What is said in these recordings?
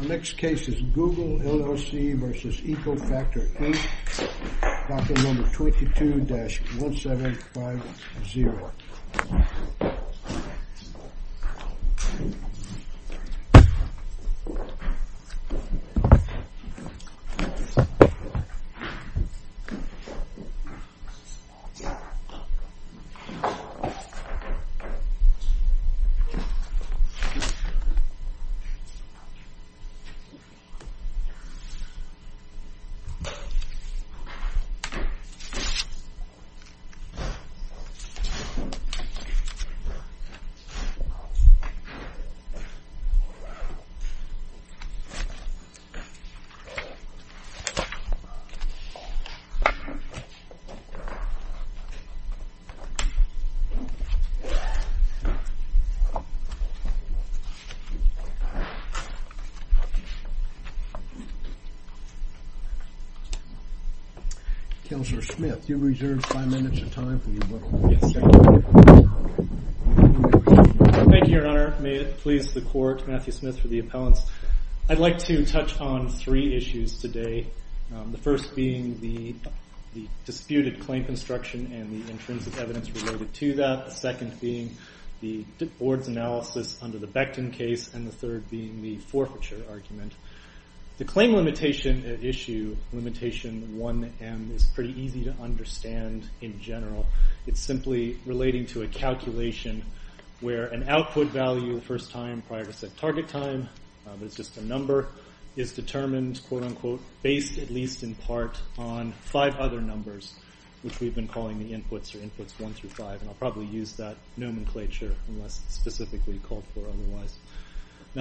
The next case is Google LLC v. EcoFactor, Inc. Document No. 22-1750. Document No. 22-1750. The next case is Google LLC v. EcoFactor, Inc. The next case is Google LLC v. EcoFactor, Inc.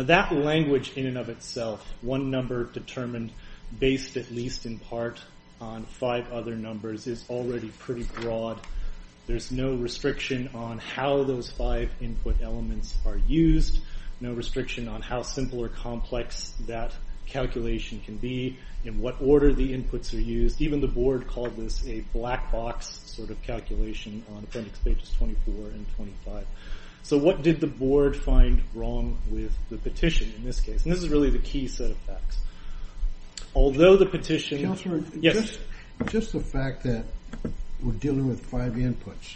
That language in and of itself, one number determined based at least in part on five other numbers, is already pretty broad. There's no restriction on how those five input elements are used, no restriction on how simple or complex that calculation can be, in what order the inputs are used. Even the board called this a black box sort of calculation on appendix pages 24 and 25. So what did the board find wrong with the petition in this case? And this is really the key set of facts. Although the petition... Just the fact that we're dealing with five inputs,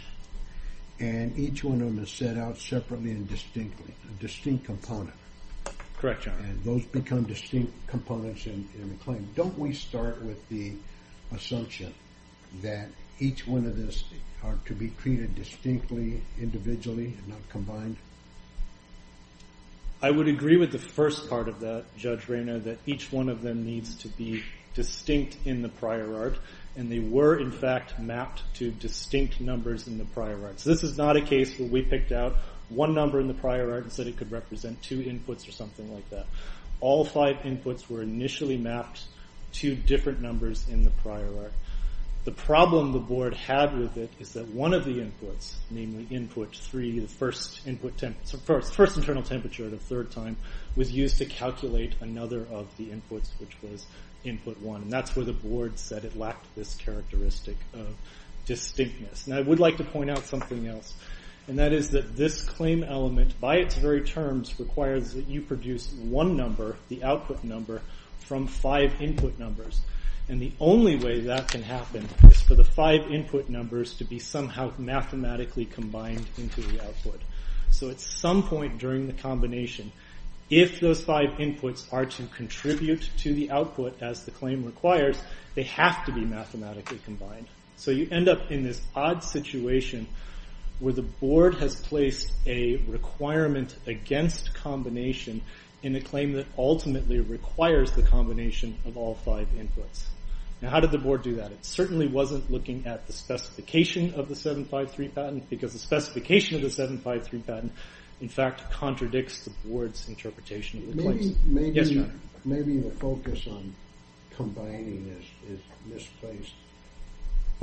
and each one of them is set out separately and distinctly, a distinct component. Correct, John. And those become distinct components in the claim. Don't we start with the assumption that each one of these are to be treated distinctly, individually, not combined? I would agree with the first part of that, Judge Rayner, that each one of them needs to be distinct in the prior art. And they were, in fact, mapped to distinct numbers in the prior art. So this is not a case where we picked out one number in the prior art and said it could represent two inputs or something like that. All five inputs were initially mapped to different numbers in the prior art. The problem the board had with it is that one of the inputs, namely input three, the first internal temperature at a third time, was used to calculate another of the inputs, which was input one. And that's where the board said it lacked this characteristic of distinctness. And I would like to point out something else. And that is that this claim element, by its very terms, requires that you produce one number, the output number, from five input numbers. And the only way that can happen is for the five input numbers to be somehow mathematically combined into the output. So at some point during the combination, if those five inputs are to contribute to the output as the claim requires, they have to be mathematically combined. So you end up in this odd situation where the board has placed a requirement against combination in a claim that ultimately requires the combination of all five inputs. Now how did the board do that? It certainly wasn't looking at the specification of the 753 patent, because the specification of the 753 patent, in fact, contradicts the board's interpretation of the claim. Maybe the focus on combining this is misplaced.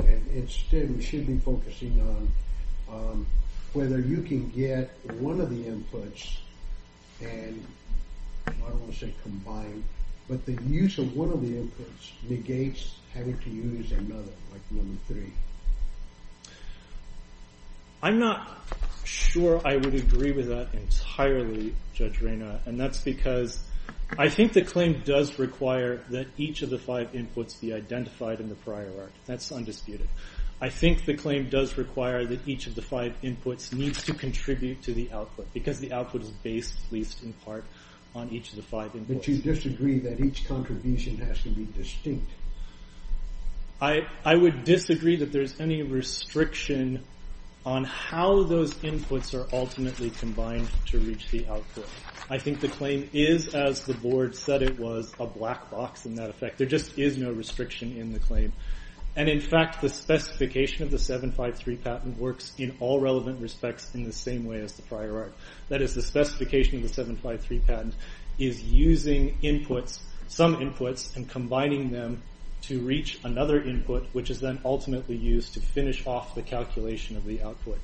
And instead, we should be focusing on whether you can get one of the inputs and, I don't want to say combine, but the use of one of the inputs negates having to use another, like number three. I'm not sure I would agree with that entirely, Judge Reyna. And that's because I think the claim does require that each of the five inputs be identified in the prior art. That's undisputed. I think the claim does require that each of the five inputs needs to contribute to the output, because the output is based, at least in part, on each of the five inputs. But you disagree that each contribution has to be distinct. I would disagree that there's any restriction on how those inputs are ultimately combined to reach the output. I think the claim is, as the board said it was, a black box in that effect. There just is no restriction in the claim. And in fact, the specification of the 753 patent works in all relevant respects in the same way as the prior art. That is, the specification of the 753 patent is using inputs, some inputs, and combining them to reach another input, which is then ultimately used to finish off the calculation of the output.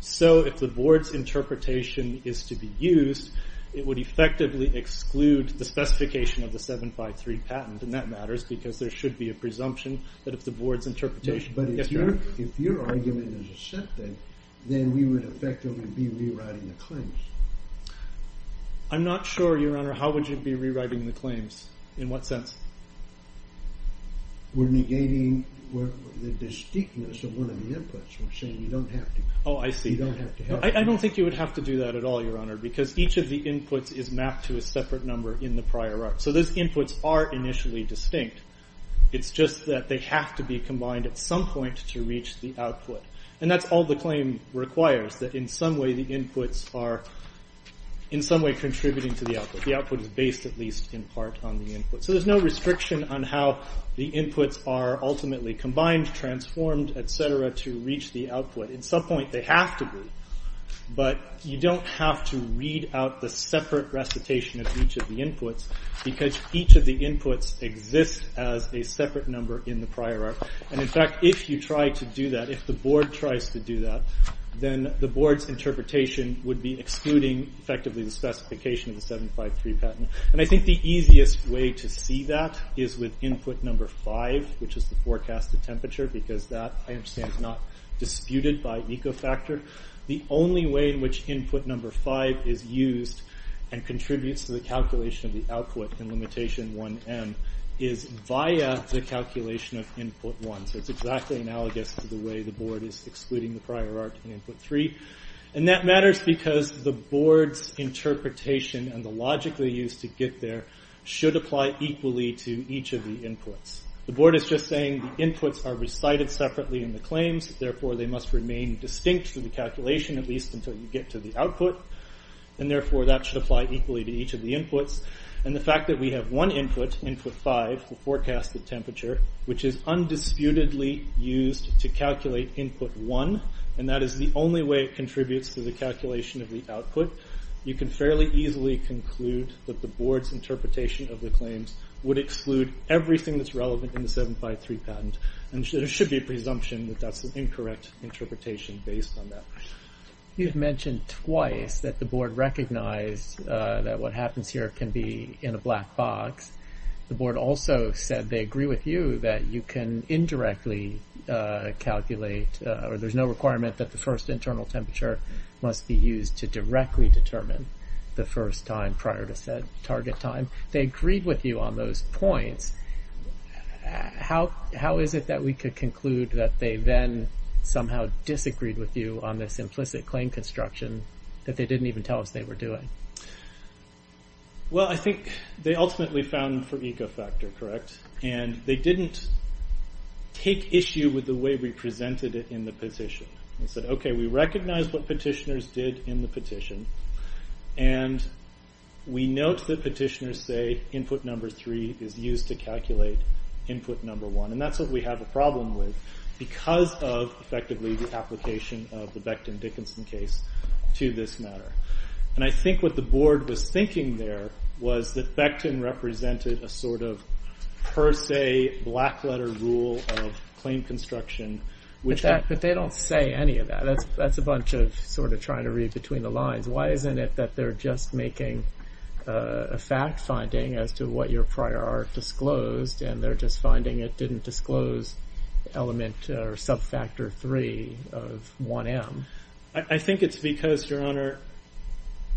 So if the board's interpretation is to be used, it would effectively exclude the specification of the 753 patent. And that matters, because there should be a presumption that if the board's interpretation… But if your argument is accepted, then we would effectively be rewriting the claims. I'm not sure, Your Honor. How would you be rewriting the claims? In what sense? We're negating the distinctness of one of the inputs. We're saying you don't have to… Oh, I see. You don't have to have… I don't think you would have to do that at all, Your Honor, because each of the inputs is mapped to a separate number in the prior art. So those inputs are initially distinct. It's just that they have to be combined at some point to reach the output. And that's all the claim requires, that in some way the inputs are in some way contributing to the output. The output is based, at least in part, on the input. So there's no restriction on how the inputs are ultimately combined, transformed, etc., to reach the output. At some point they have to be. But you don't have to read out the separate recitation of each of the inputs, because each of the inputs exists as a separate number in the prior art. And, in fact, if you try to do that, if the board tries to do that, then the board's interpretation would be excluding, effectively, the specification of the 753 patent. And I think the easiest way to see that is with input number 5, which is the forecasted temperature, because that, I understand, is not disputed by Ecofactor. The only way in which input number 5 is used and contributes to the calculation of the output in limitation 1M is via the calculation of input 1. So it's exactly analogous to the way the board is excluding the prior art in input 3. And that matters because the board's interpretation and the logic they used to get there should apply equally to each of the inputs. The board is just saying the inputs are recited separately in the claims, therefore they must remain distinct to the calculation, at least until you get to the output, and therefore that should apply equally to each of the inputs. And the fact that we have one input, input 5, the forecasted temperature, which is undisputedly used to calculate input 1, and that is the only way it contributes to the calculation of the output, you can fairly easily conclude that the board's interpretation of the claims would exclude everything that's relevant in the 753 patent. And there should be a presumption that that's an incorrect interpretation based on that. You've mentioned twice that the board recognized that what happens here can be in a black box. The board also said they agree with you that you can indirectly calculate, or there's no requirement that the first internal temperature must be used to directly determine the first time prior to said target time. They agreed with you on those points. How is it that we could conclude that they then somehow disagreed with you on this implicit claim construction that they didn't even tell us they were doing? Well, I think they ultimately found them for ecofactor, correct? And they didn't take issue with the way we presented it in the petition. They said, okay, we recognize what petitioners did in the petition, and we note that petitioners say input number 3 is used to calculate input number 1, and that's what we have a problem with because of, effectively, the application of the Becton-Dickinson case to this matter. And I think what the board was thinking there was that Becton represented a sort of per se black letter rule of claim construction. But they don't say any of that. That's a bunch of sort of trying to read between the lines. Why isn't it that they're just making a fact finding as to what your prior art disclosed, and they're just finding it didn't disclose element or subfactor 3 of 1M? I think it's because, Your Honor,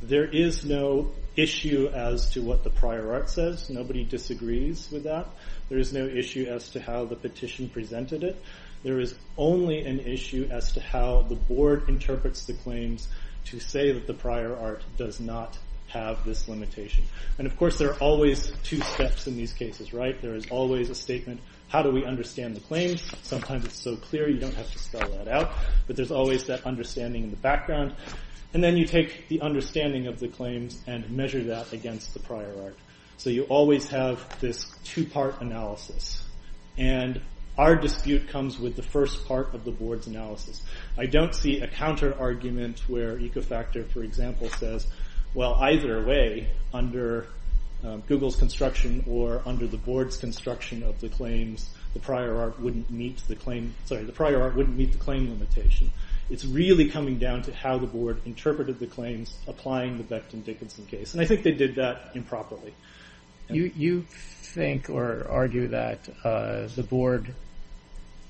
there is no issue as to what the prior art says. Nobody disagrees with that. There is no issue as to how the petition presented it. There is only an issue as to how the board interprets the claims to say that the prior art does not have this limitation. And, of course, there are always two steps in these cases, right? There is always a statement, how do we understand the claims? Sometimes it's so clear you don't have to spell that out, but there's always that understanding in the background. And then you take the understanding of the claims and measure that against the prior art. So you always have this two-part analysis. And our dispute comes with the first part of the board's analysis. I don't see a counter argument where Ecofactor, for example, says, well, either way, under Google's construction or under the board's construction of the claims, the prior art wouldn't meet the claim limitation. It's really coming down to how the board interpreted the claims applying the Becton-Dickinson case. And I think they did that improperly. You think or argue that the board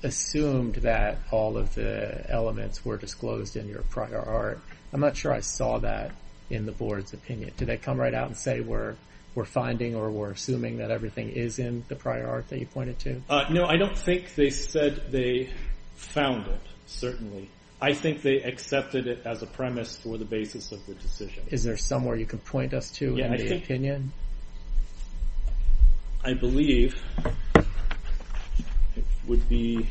assumed that all of the elements were disclosed in your prior art. I'm not sure I saw that in the board's opinion. Did they come right out and say we're finding or we're assuming that everything is in the prior art that you pointed to? No, I don't think they said they found it, certainly. I think they accepted it as a premise for the basis of the decision. Is there somewhere you can point us to in the opinion? I believe it would be,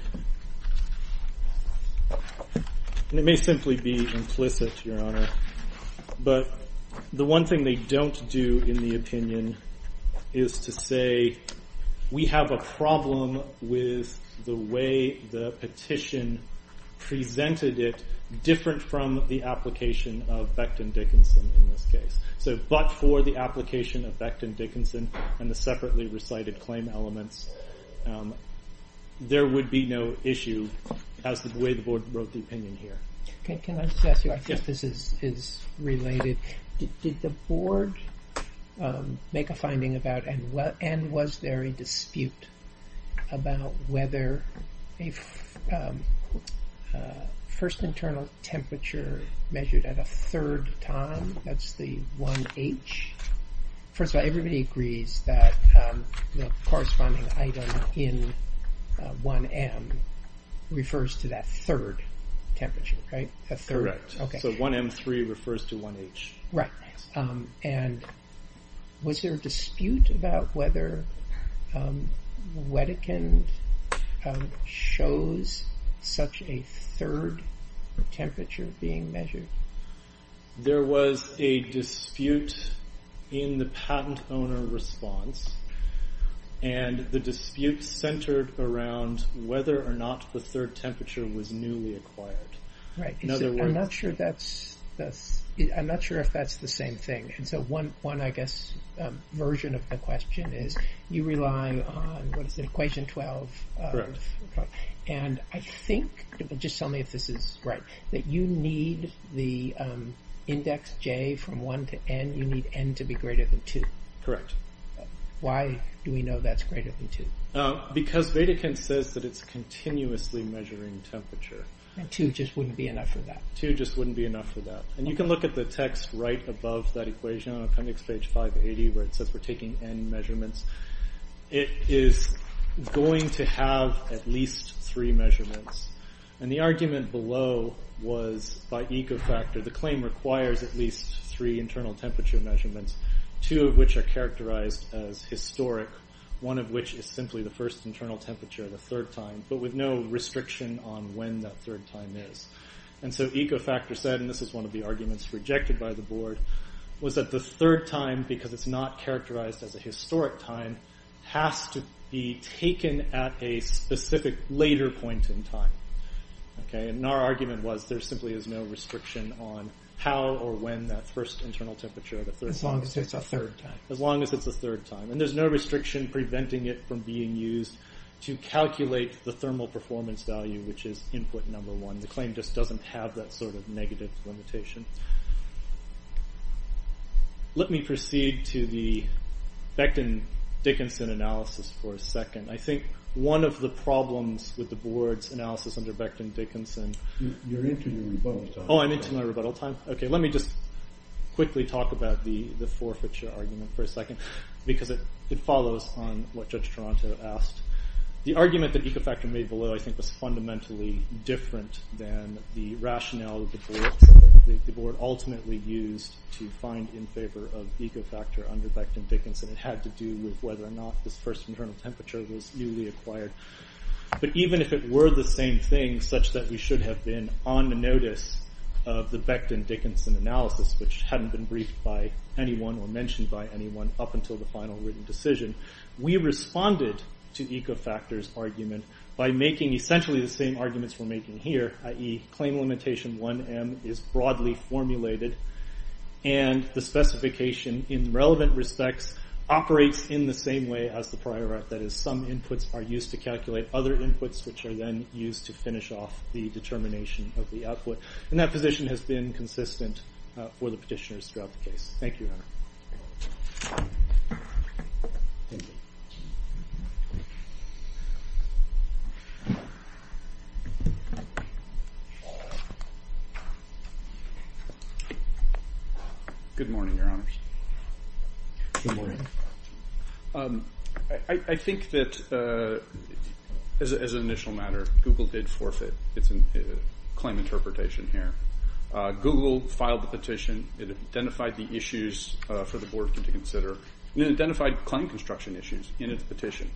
and it may simply be implicit, Your Honor, but the one thing they don't do in the opinion is to say we have a problem with the way the petition presented it different from the application of Becton-Dickinson in this case. But for the application of Becton-Dickinson and the separately recited claim elements, there would be no issue as to the way the board wrote the opinion here. Can I just ask you, I think this is related. Did the board make a finding about and was there a dispute about whether a first internal temperature measured at a third time, that's the 1H. First of all, everybody agrees that the corresponding item in 1M refers to that third temperature, right? Correct, so 1M3 refers to 1H. Right, and was there a dispute about whether Wedekind shows such a third temperature being measured? There was a dispute in the patent owner response and the dispute centered around whether or not the third temperature was newly acquired. Right, I'm not sure if that's the same thing. So one, I guess, version of the question is you rely on, what is it, equation 12? Correct. And I think, just tell me if this is right, that you need the index J from 1 to N, you need N to be greater than 2. Correct. Why do we know that's greater than 2? Because Wedekind says that it's continuously measuring temperature. And 2 just wouldn't be enough for that. 2 just wouldn't be enough for that. And you can look at the text right above that equation on appendix page 580 where it says we're taking N measurements. It is going to have at least three measurements. And the argument below was by Ecofactor, the claim requires at least three internal temperature measurements, two of which are characterized as historic, one of which is simply the first internal temperature of the third time, but with no restriction on when that third time is. And so Ecofactor said, and this is one of the arguments rejected by the board, was that the third time, because it's not characterized as a historic time, has to be taken at a specific later point in time. And our argument was there simply is no restriction on how or when that first internal temperature at a third time. As long as it's a third time. As long as it's a third time. And there's no restriction preventing it from being used to calculate the thermal performance value, which is input number one. The claim just doesn't have that sort of negative limitation. Let me proceed to the Becton-Dickinson analysis for a second. I think one of the problems with the board's analysis under Becton-Dickinson... You're into your rebuttal time. Oh, I'm into my rebuttal time? Okay, let me just quickly talk about the forfeiture argument for a second. Because it follows on what Judge Toronto asked. The argument that Ecofactor made below, I think, was fundamentally different than the rationale that the board ultimately used to find in favor of Ecofactor under Becton-Dickinson. It had to do with whether or not this first internal temperature was newly acquired. But even if it were the same thing, such that we should have been on the notice of the Becton-Dickinson analysis, which hadn't been briefed by anyone or mentioned by anyone up until the final written decision, we responded to Ecofactor's argument by making essentially the same arguments we're making here, i.e. claim limitation 1M is broadly formulated, and the specification in relevant respects operates in the same way as the prior art. That is, some inputs are used to calculate other inputs, which are then used to finish off the determination of the output. And that position has been consistent for the petitioners throughout the case. Thank you, Your Honor. Good morning, Your Honors. Good morning. I think that, as an initial matter, Google did forfeit its claim interpretation here. Google filed the petition. It identified the issues for the board to consider. It identified claim construction issues in its petition.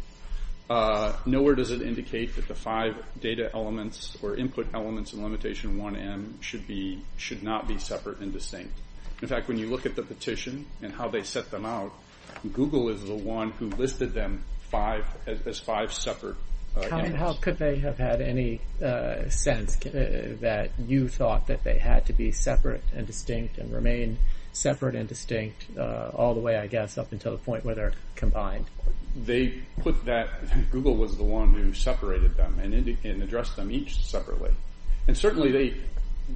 Nowhere does it indicate that the five data elements or input elements in limitation 1M should not be separate and distinct. In fact, when you look at the petition and how they set them out, Google is the one who listed them as five separate elements. How could they have had any sense that you thought that they had to be separate and distinct and remain separate and distinct all the way, I guess, up until the point where they're combined? They put that... Google was the one who separated them and addressed them each separately. And certainly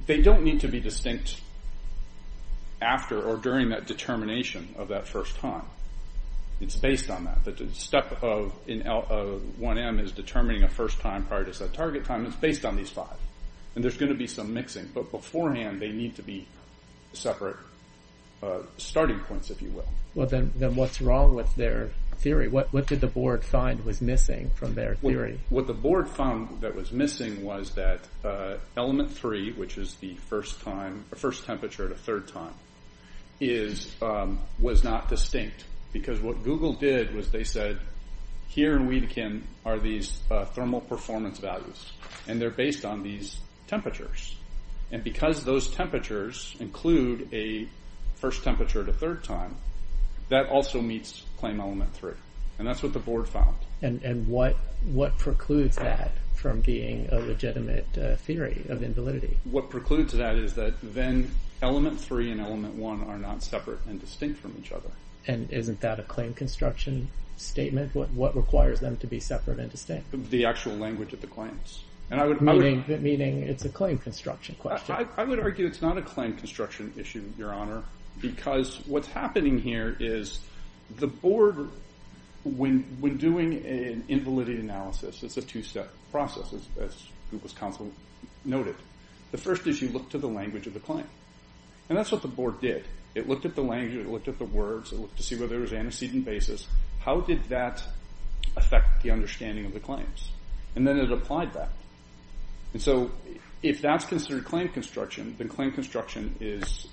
they don't need to be distinct after or during that determination of that first time. It's based on that. The step of 1M is determining a first time prior to set target time. It's based on these five. And there's going to be some mixing, but beforehand they need to be separate starting points, if you will. Then what's wrong with their theory? What did the board find was missing from their theory? What the board found that was missing was that element 3, which is the first temperature at a third time, was not distinct. Because what Google did was they said, here in Weedekind are these thermal performance values, and they're based on these temperatures. And because those temperatures include a first temperature at a third time, that also meets claim element 3. And that's what the board found. And what precludes that from being a legitimate theory of invalidity? What precludes that is that then element 3 and element 1 are not separate and distinct from each other. And isn't that a claim construction statement? What requires them to be separate and distinct? The actual language of the claims. Meaning it's a claim construction question. I would argue it's not a claim construction issue, Your Honor, because what's happening here is the board, when doing an invalidity analysis, it's a two-step process, as Google's counsel noted. The first is you look to the language of the claim. And that's what the board did. It looked at the language, it looked at the words, it looked to see whether there was antecedent basis. How did that affect the understanding of the claims? And then it applied that. And so if that's considered claim construction, then claim construction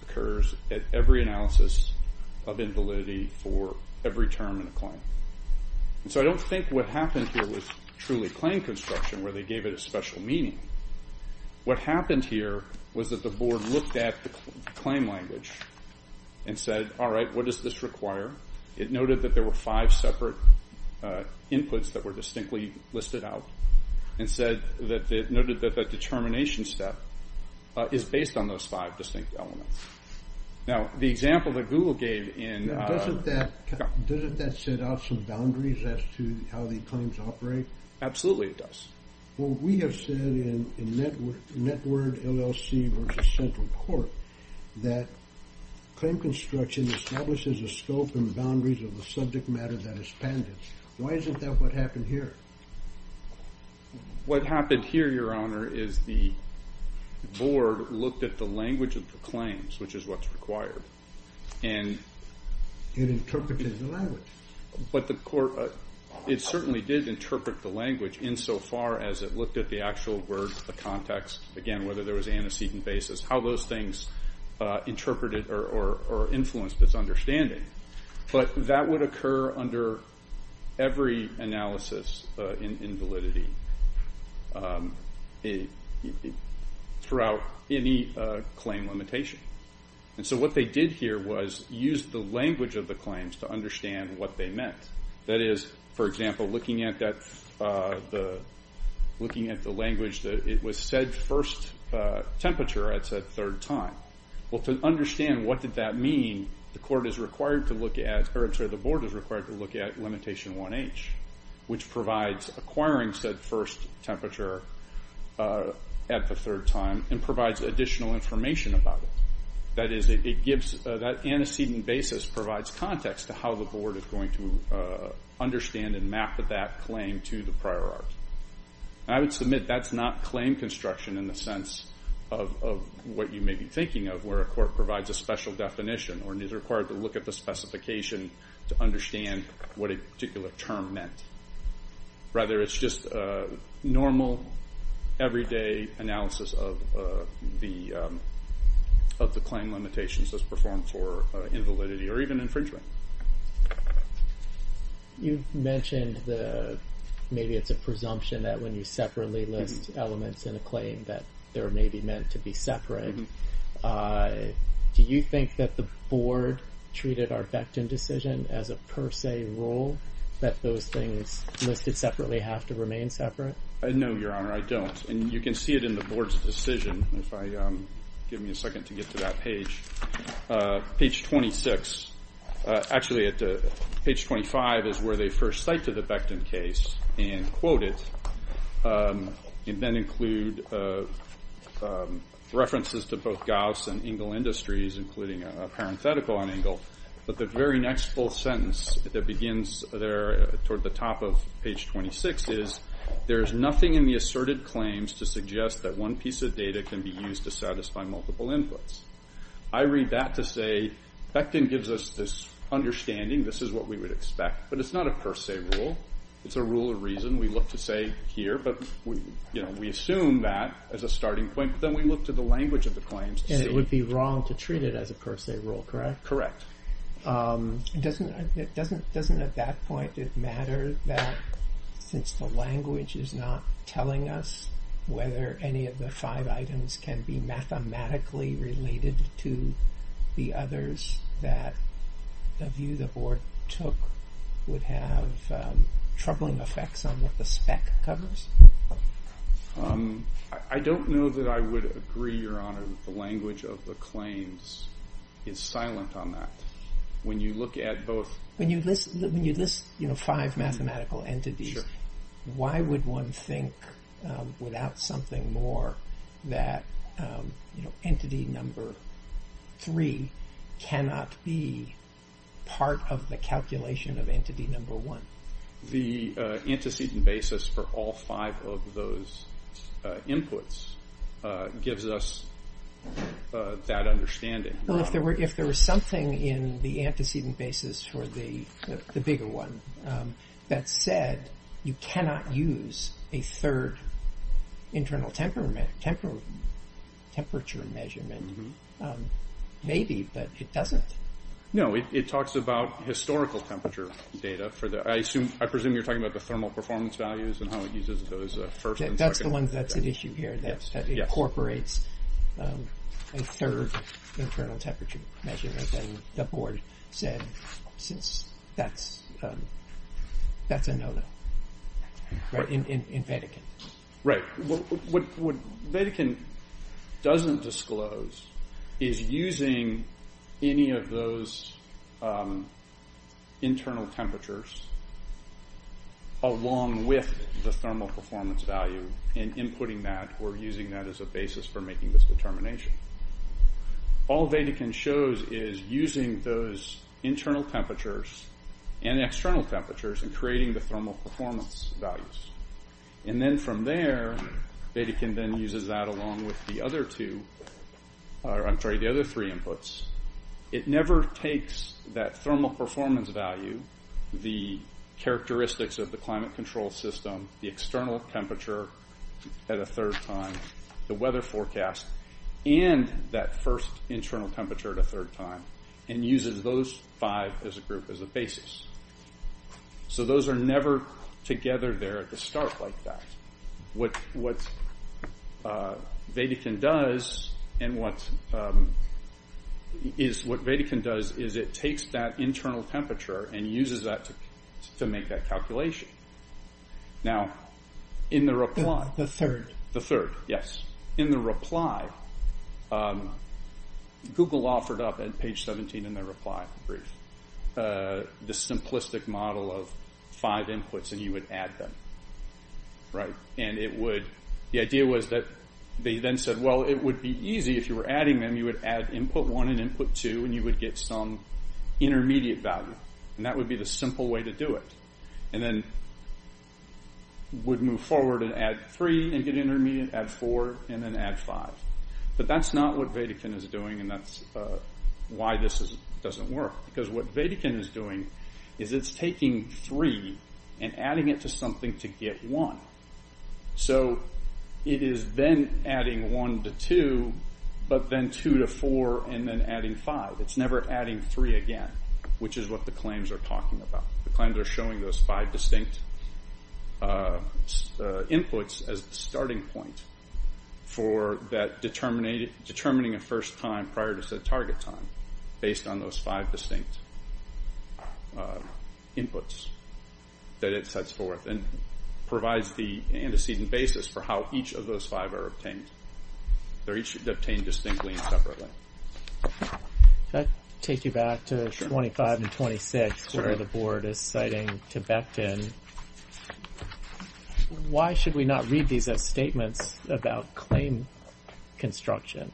occurs at every analysis of invalidity for every term in a claim. And so I don't think what happened here was truly claim construction, where they gave it a special meaning. What happened here was that the board looked at the claim language and said, all right, what does this require? It noted that there were five separate inputs that were distinctly listed out and noted that the determination step is based on those five distinct elements. Now, the example that Google gave in... Doesn't that set out some boundaries as to how the claims operate? Absolutely it does. Well, we have said in NetWord LLC versus Central Court that claim construction establishes a scope and boundaries of the subject matter that is pandemic. Why isn't that what happened here? What happened here, Your Honour, is the board looked at the language of the claims, which is what's required, and... It interpreted the language. But the court... It interpreted the language insofar as it looked at the actual word, the context, again, whether there was antecedent basis, how those things interpreted or influenced its understanding. But that would occur under every analysis in validity... ..throughout any claim limitation. And so what they did here was use the language of the claims to understand what they meant. That is, for example, looking at that... ..looking at the language that it was said first temperature at said third time. Well, to understand what did that mean, the court is required to look at... Sorry, the board is required to look at Limitation 1H, which provides acquiring said first temperature at the third time and provides additional information about it. That is, it gives... That antecedent basis provides context to how the board is going to understand and map that claim to the prior art. I would submit that's not claim construction in the sense of what you may be thinking of, where a court provides a special definition or is required to look at the specification to understand what a particular term meant. Rather, it's just normal, everyday analysis of the claim limitations that's performed for invalidity or even infringement. You mentioned the... Maybe it's a presumption that when you separately list elements in a claim that they're maybe meant to be separate. Do you think that the board treated our Vectin decision as a per se rule, that those things listed separately have to remain separate? No, Your Honour, I don't. And you can see it in the board's decision. Give me a second to get to that page. Page 26. Actually, page 25 is where they first cite to the Vectin case and quote it, and then include references to both Gauss and Engel Industries, including a parenthetical on Engel. But the very next full sentence that begins there toward the top of page 26 is, there's nothing in the asserted claims to suggest that one piece of data can be used to satisfy multiple inputs. I read that to say, Vectin gives us this understanding, this is what we would expect, but it's not a per se rule. It's a rule of reason we look to say here, but we assume that as a starting point, but then we look to the language of the claims... And it would be wrong to treat it as a per se rule, correct? Correct. Doesn't at that point it matter that since the language is not telling us whether any of the five items can be mathematically related to the others that the view the Board took would have troubling effects on what the spec covers? I don't know that I would agree, Your Honor, that the language of the claims is silent on that. When you look at both... When you list five mathematical entities, why would one think without something more that entity number three cannot be part of the calculation of entity number one? The antecedent basis for all five of those inputs gives us that understanding. Well, if there was something in the antecedent basis for the bigger one that said you cannot use a third internal temperature measurement, maybe, but it doesn't. No, it talks about historical temperature data. I presume you're talking about the thermal performance values and how it uses those first and second. That's the one that's at issue here, that incorporates a third internal temperature measurement. The Board said that's a no-no in Vatican. Right. What Vatican doesn't disclose is using any of those internal temperatures along with the thermal performance value and inputting that or using that as a basis for making this determination. All Vatican shows is using those internal temperatures and external temperatures and creating the thermal performance values. Then from there, Vatican then uses that along with the other three inputs. It never takes that thermal performance value, the characteristics of the climate control system, the external temperature at a third time, the weather forecast, and that first internal temperature at a third time and uses those five as a group, as a basis. Those are never together there at the start like that. What Vatican does is it takes that internal temperature and uses that to make that calculation. Now, in the reply... The third. The third, yes. In the reply, Google offered up, at page 17 in their reply brief, the simplistic model of five inputs and you would add them. The idea was that they then said, well, it would be easy if you were adding them. You would add input one and input two and you would get some intermediate value. That would be the simple way to do it. And then we'd move forward and add three and get intermediate, add four, and then add five. But that's not what Vatican is doing and that's why this doesn't work. Because what Vatican is doing is it's taking three and adding it to something to get one. So it is then adding one to two, but then two to four and then adding five. It's never adding three again, which is what the claims are talking about. The claims are showing those five distinct inputs as the starting point for determining a first time prior to said target time based on those five distinct inputs that it sets forth and provides the antecedent basis for how each of those five are obtained. They're each obtained distinctly and separately. Can I take you back to 25 and 26, where the board is citing to Becton, why should we not read these as statements about claim construction?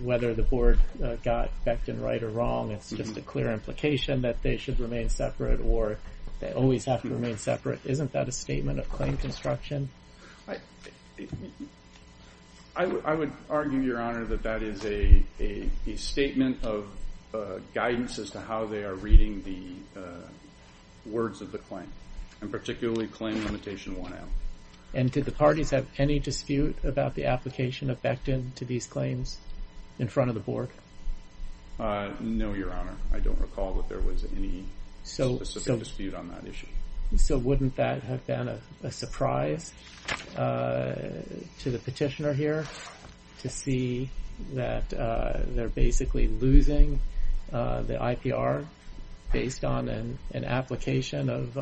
Whether the board got Becton right or wrong, it's just a clear implication that they should remain separate or they always have to remain separate. Isn't that a statement of claim construction? I would argue, Your Honor, that that is a statement of guidance as to how they are reading the words of the claim and particularly claim limitation 1M. And did the parties have any dispute about the application of Becton to these claims in front of the board? No, Your Honor. I don't recall that there was any specific dispute on that issue. So wouldn't that have been a surprise to the petitioner here to see that they're basically losing the IPR based on an application of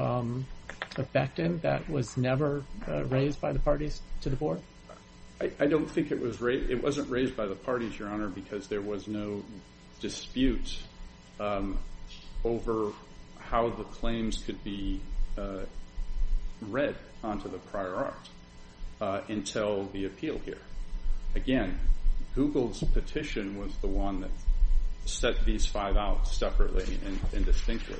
Becton that was never raised by the parties to the board? I don't think it was raised by the parties, Your Honor, because there was no dispute over how the claims could be read onto the prior art until the appeal here. Again, Google's petition was the one that set these five out separately and distinctly.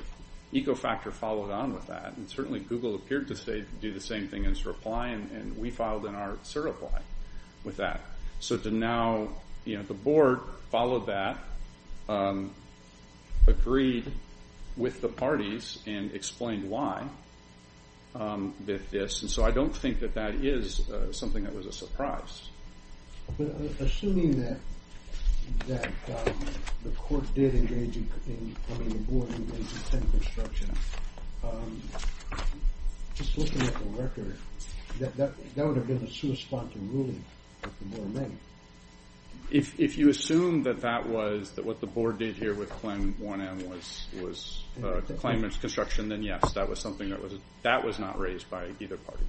Ecofactor followed on with that, and certainly Google appeared to do the same thing as Reply, and we filed in our certify with that. So to now, you know, the board followed that agreed with the parties and explained why with this. And so I don't think that that is something that was a surprise. But assuming that the court did engage in... I mean, the board engaged in tent construction, just looking at the record, that would have been a sui sponte ruling that the board made. If you assume that that was... that what the board did here with claim 1M was a claim of construction, then yes, that was something that was not raised by either party.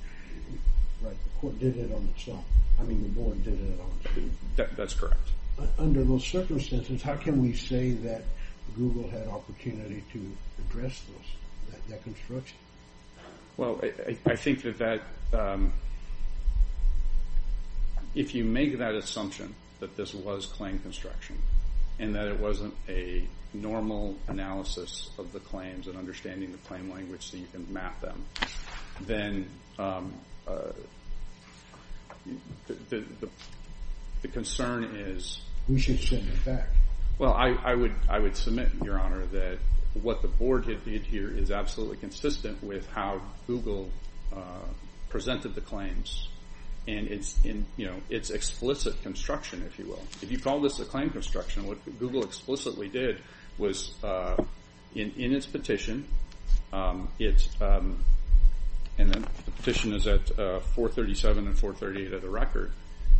Right, the court did it on its own. I mean, the board did it on its own. That's correct. Under those circumstances, how can we say that Google had opportunity to address that construction? Well, I think that that... If you make that assumption that this was claim construction and that it wasn't a normal analysis of the claims and understanding the claim language so you can map them, then the concern is... We should send it back. Well, I would submit, Your Honor, that what the board did here is absolutely consistent with how Google presented the claims. And it's explicit construction, if you will. If you call this a claim construction, what Google explicitly did was, in its petition, and the petition is at 437 and 438 of the record,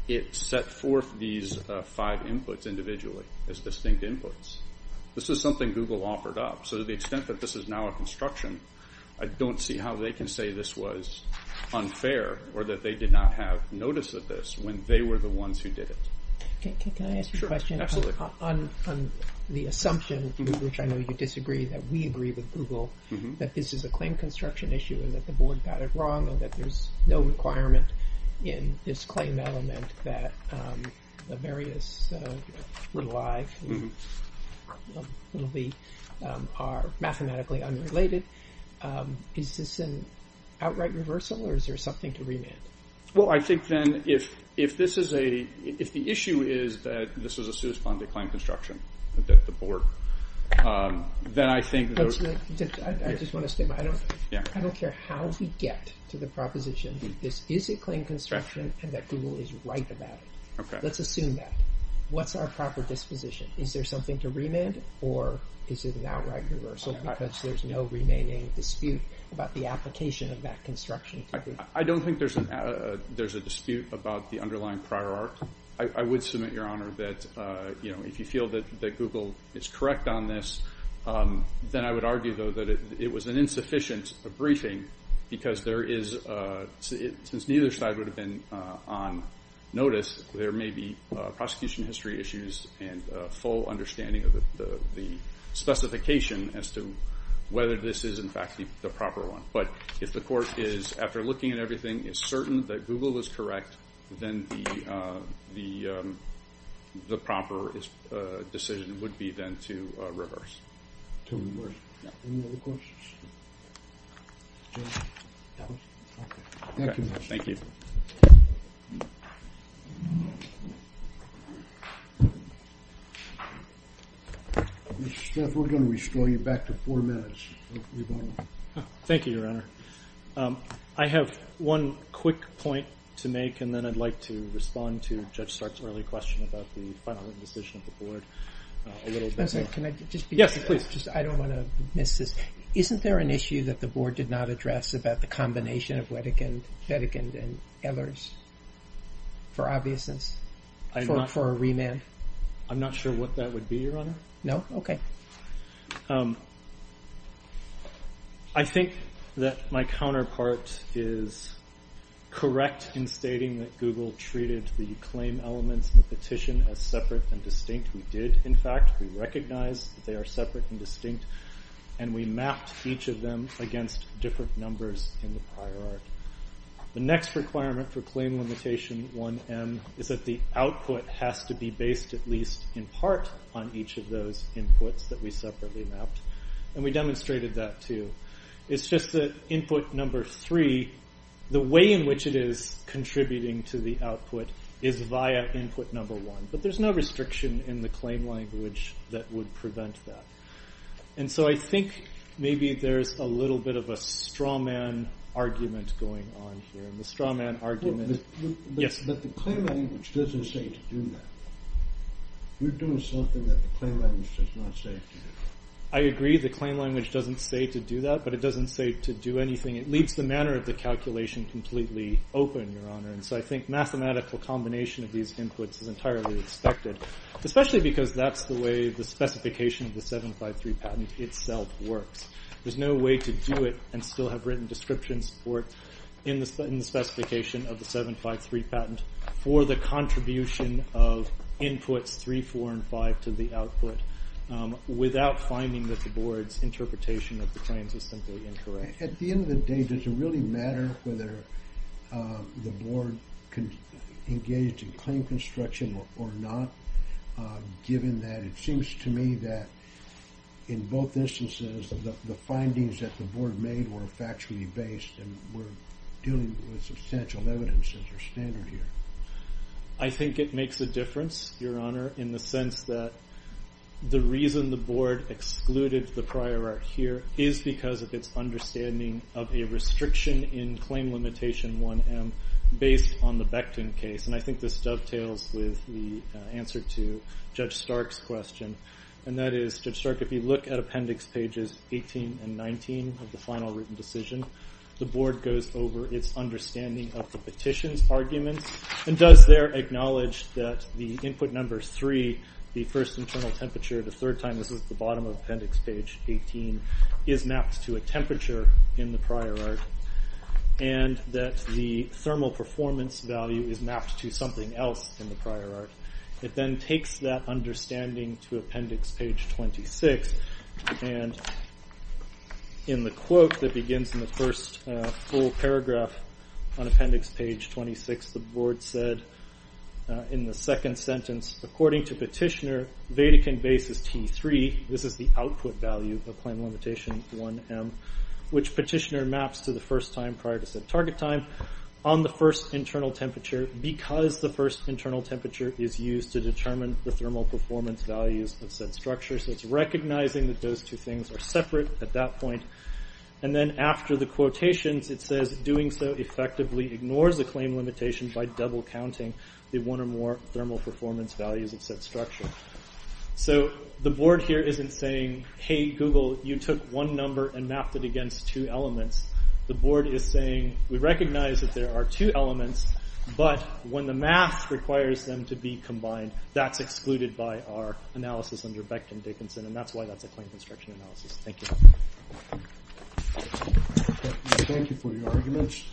it set forth these five inputs individually as distinct inputs. This is something Google offered up. So to the extent that this is now a construction, I don't see how they can say this was unfair or that they did not have notice of this when they were the ones who did it. Can I ask a question? Absolutely. On the assumption, which I know you disagree, that we agree with Google, that this is a claim construction issue and that the board got it wrong and that there's no requirement in this claim element that the various little i's and little v's are mathematically unrelated, is this an outright reversal or is there something to remand? Well, I think then if the issue is that this is a suit upon the claim construction, that the board, then I think... I just want to state, I don't care how we get to the proposition that this is a claim construction and that Google is right about it. Let's assume that. What's our proper disposition? Is there something to remand or is it an outright reversal because there's no remaining dispute about the application of that construction? I don't think there's a dispute about the underlying prior art. I would submit, Your Honor, that if you feel that Google is correct on this, then I would argue, though, that it was an insufficient briefing because there is... Since neither side would have been on notice, there may be prosecution history issues and a full understanding of the specification as to whether this is, in fact, the proper one. But if the court is, after looking at everything, is certain that Google is correct, then the proper decision would be then to reverse. To reverse. Any other questions? Thank you. Thank you. Mr. Stiff, we're going to restore you back to four minutes. Thank you, Your Honor. I have one quick point to make and then I'd like to respond to Judge Stark's early question about the final decision of the Board. I'm sorry, can I just be brief? Yes, please. I don't want to miss this. Isn't there an issue that the Board did not address about the combination of Wettigand and Google? For obviousness? For a remand? I'm not sure what that would be, Your Honor. No? Okay. I think that my counterpart is correct in stating that Google treated the claim elements in the petition as separate and distinct. We did, in fact. We recognized that they are separate and distinct and we mapped each of them against different numbers in the prior art. The next requirement for Claim Limitation 1M is that the output has to be based at least in part on each of those inputs that we separately mapped and we demonstrated that too. It's just that input number three, the way in which it is contributing to the output is via input number one. But there's no restriction in the claim language that would prevent that. And so I think maybe there's a little bit of a strawman argument going on here. And the strawman argument... Yes? But the claim language doesn't say to do that. You're doing something that the claim language does not say to do. I agree the claim language doesn't say to do that, but it doesn't say to do anything. It leaves the manner of the calculation completely open, Your Honor. And so I think mathematical combination of these inputs is entirely expected, especially because that's the way the specification of the 753 patent itself works. There's no way to do it and still have written descriptions for it in the specification of the 753 patent for the contribution of inputs three, four, and five to the output without finding that the board's interpretation of the claims is simply incorrect. At the end of the day, does it really matter whether the board engaged in claim construction or not, given that it seems to me that in both instances the findings that the board made were factually based and were dealing with substantial evidence as their standard here? I think it makes a difference, Your Honor, in the sense that the reason the board excluded the prior art here is because of its understanding of a restriction in claim limitation 1M based on the Becton case. And I think this dovetails with the answer to Judge Stark's question. And that is, Judge Stark, if you look at appendix pages 18 and 19 of the final written decision, the board goes over its understanding of the petition's arguments and does there acknowledge that the input number three, the first internal temperature, the third time, this is the bottom of appendix page 18, is mapped to a temperature in the prior art and that the thermal performance value is mapped to something else in the prior art. It then takes that understanding to appendix page 26 and in the quote that begins in the first full paragraph on appendix page 26, the board said in the second sentence, according to petitioner, Vatican base is T3, this is the output value of claim limitation 1M, which petitioner maps to the first time prior to set target time, on the first internal temperature because the first internal temperature is used to determine the thermal performance values of said structure. So it's recognizing that those two things are separate at that point. And then after the quotations it says, doing so effectively ignores the claim limitation by double counting the one or more thermal performance values of said structure. So the board here isn't saying, hey Google, you took one number and mapped it against two elements. The board is saying, we recognize that there are two elements, but when the math requires them to be combined, that's excluded by our analysis under Beckton-Dickinson and that's why that's a claim construction analysis. Thank you. Thank you for your arguments.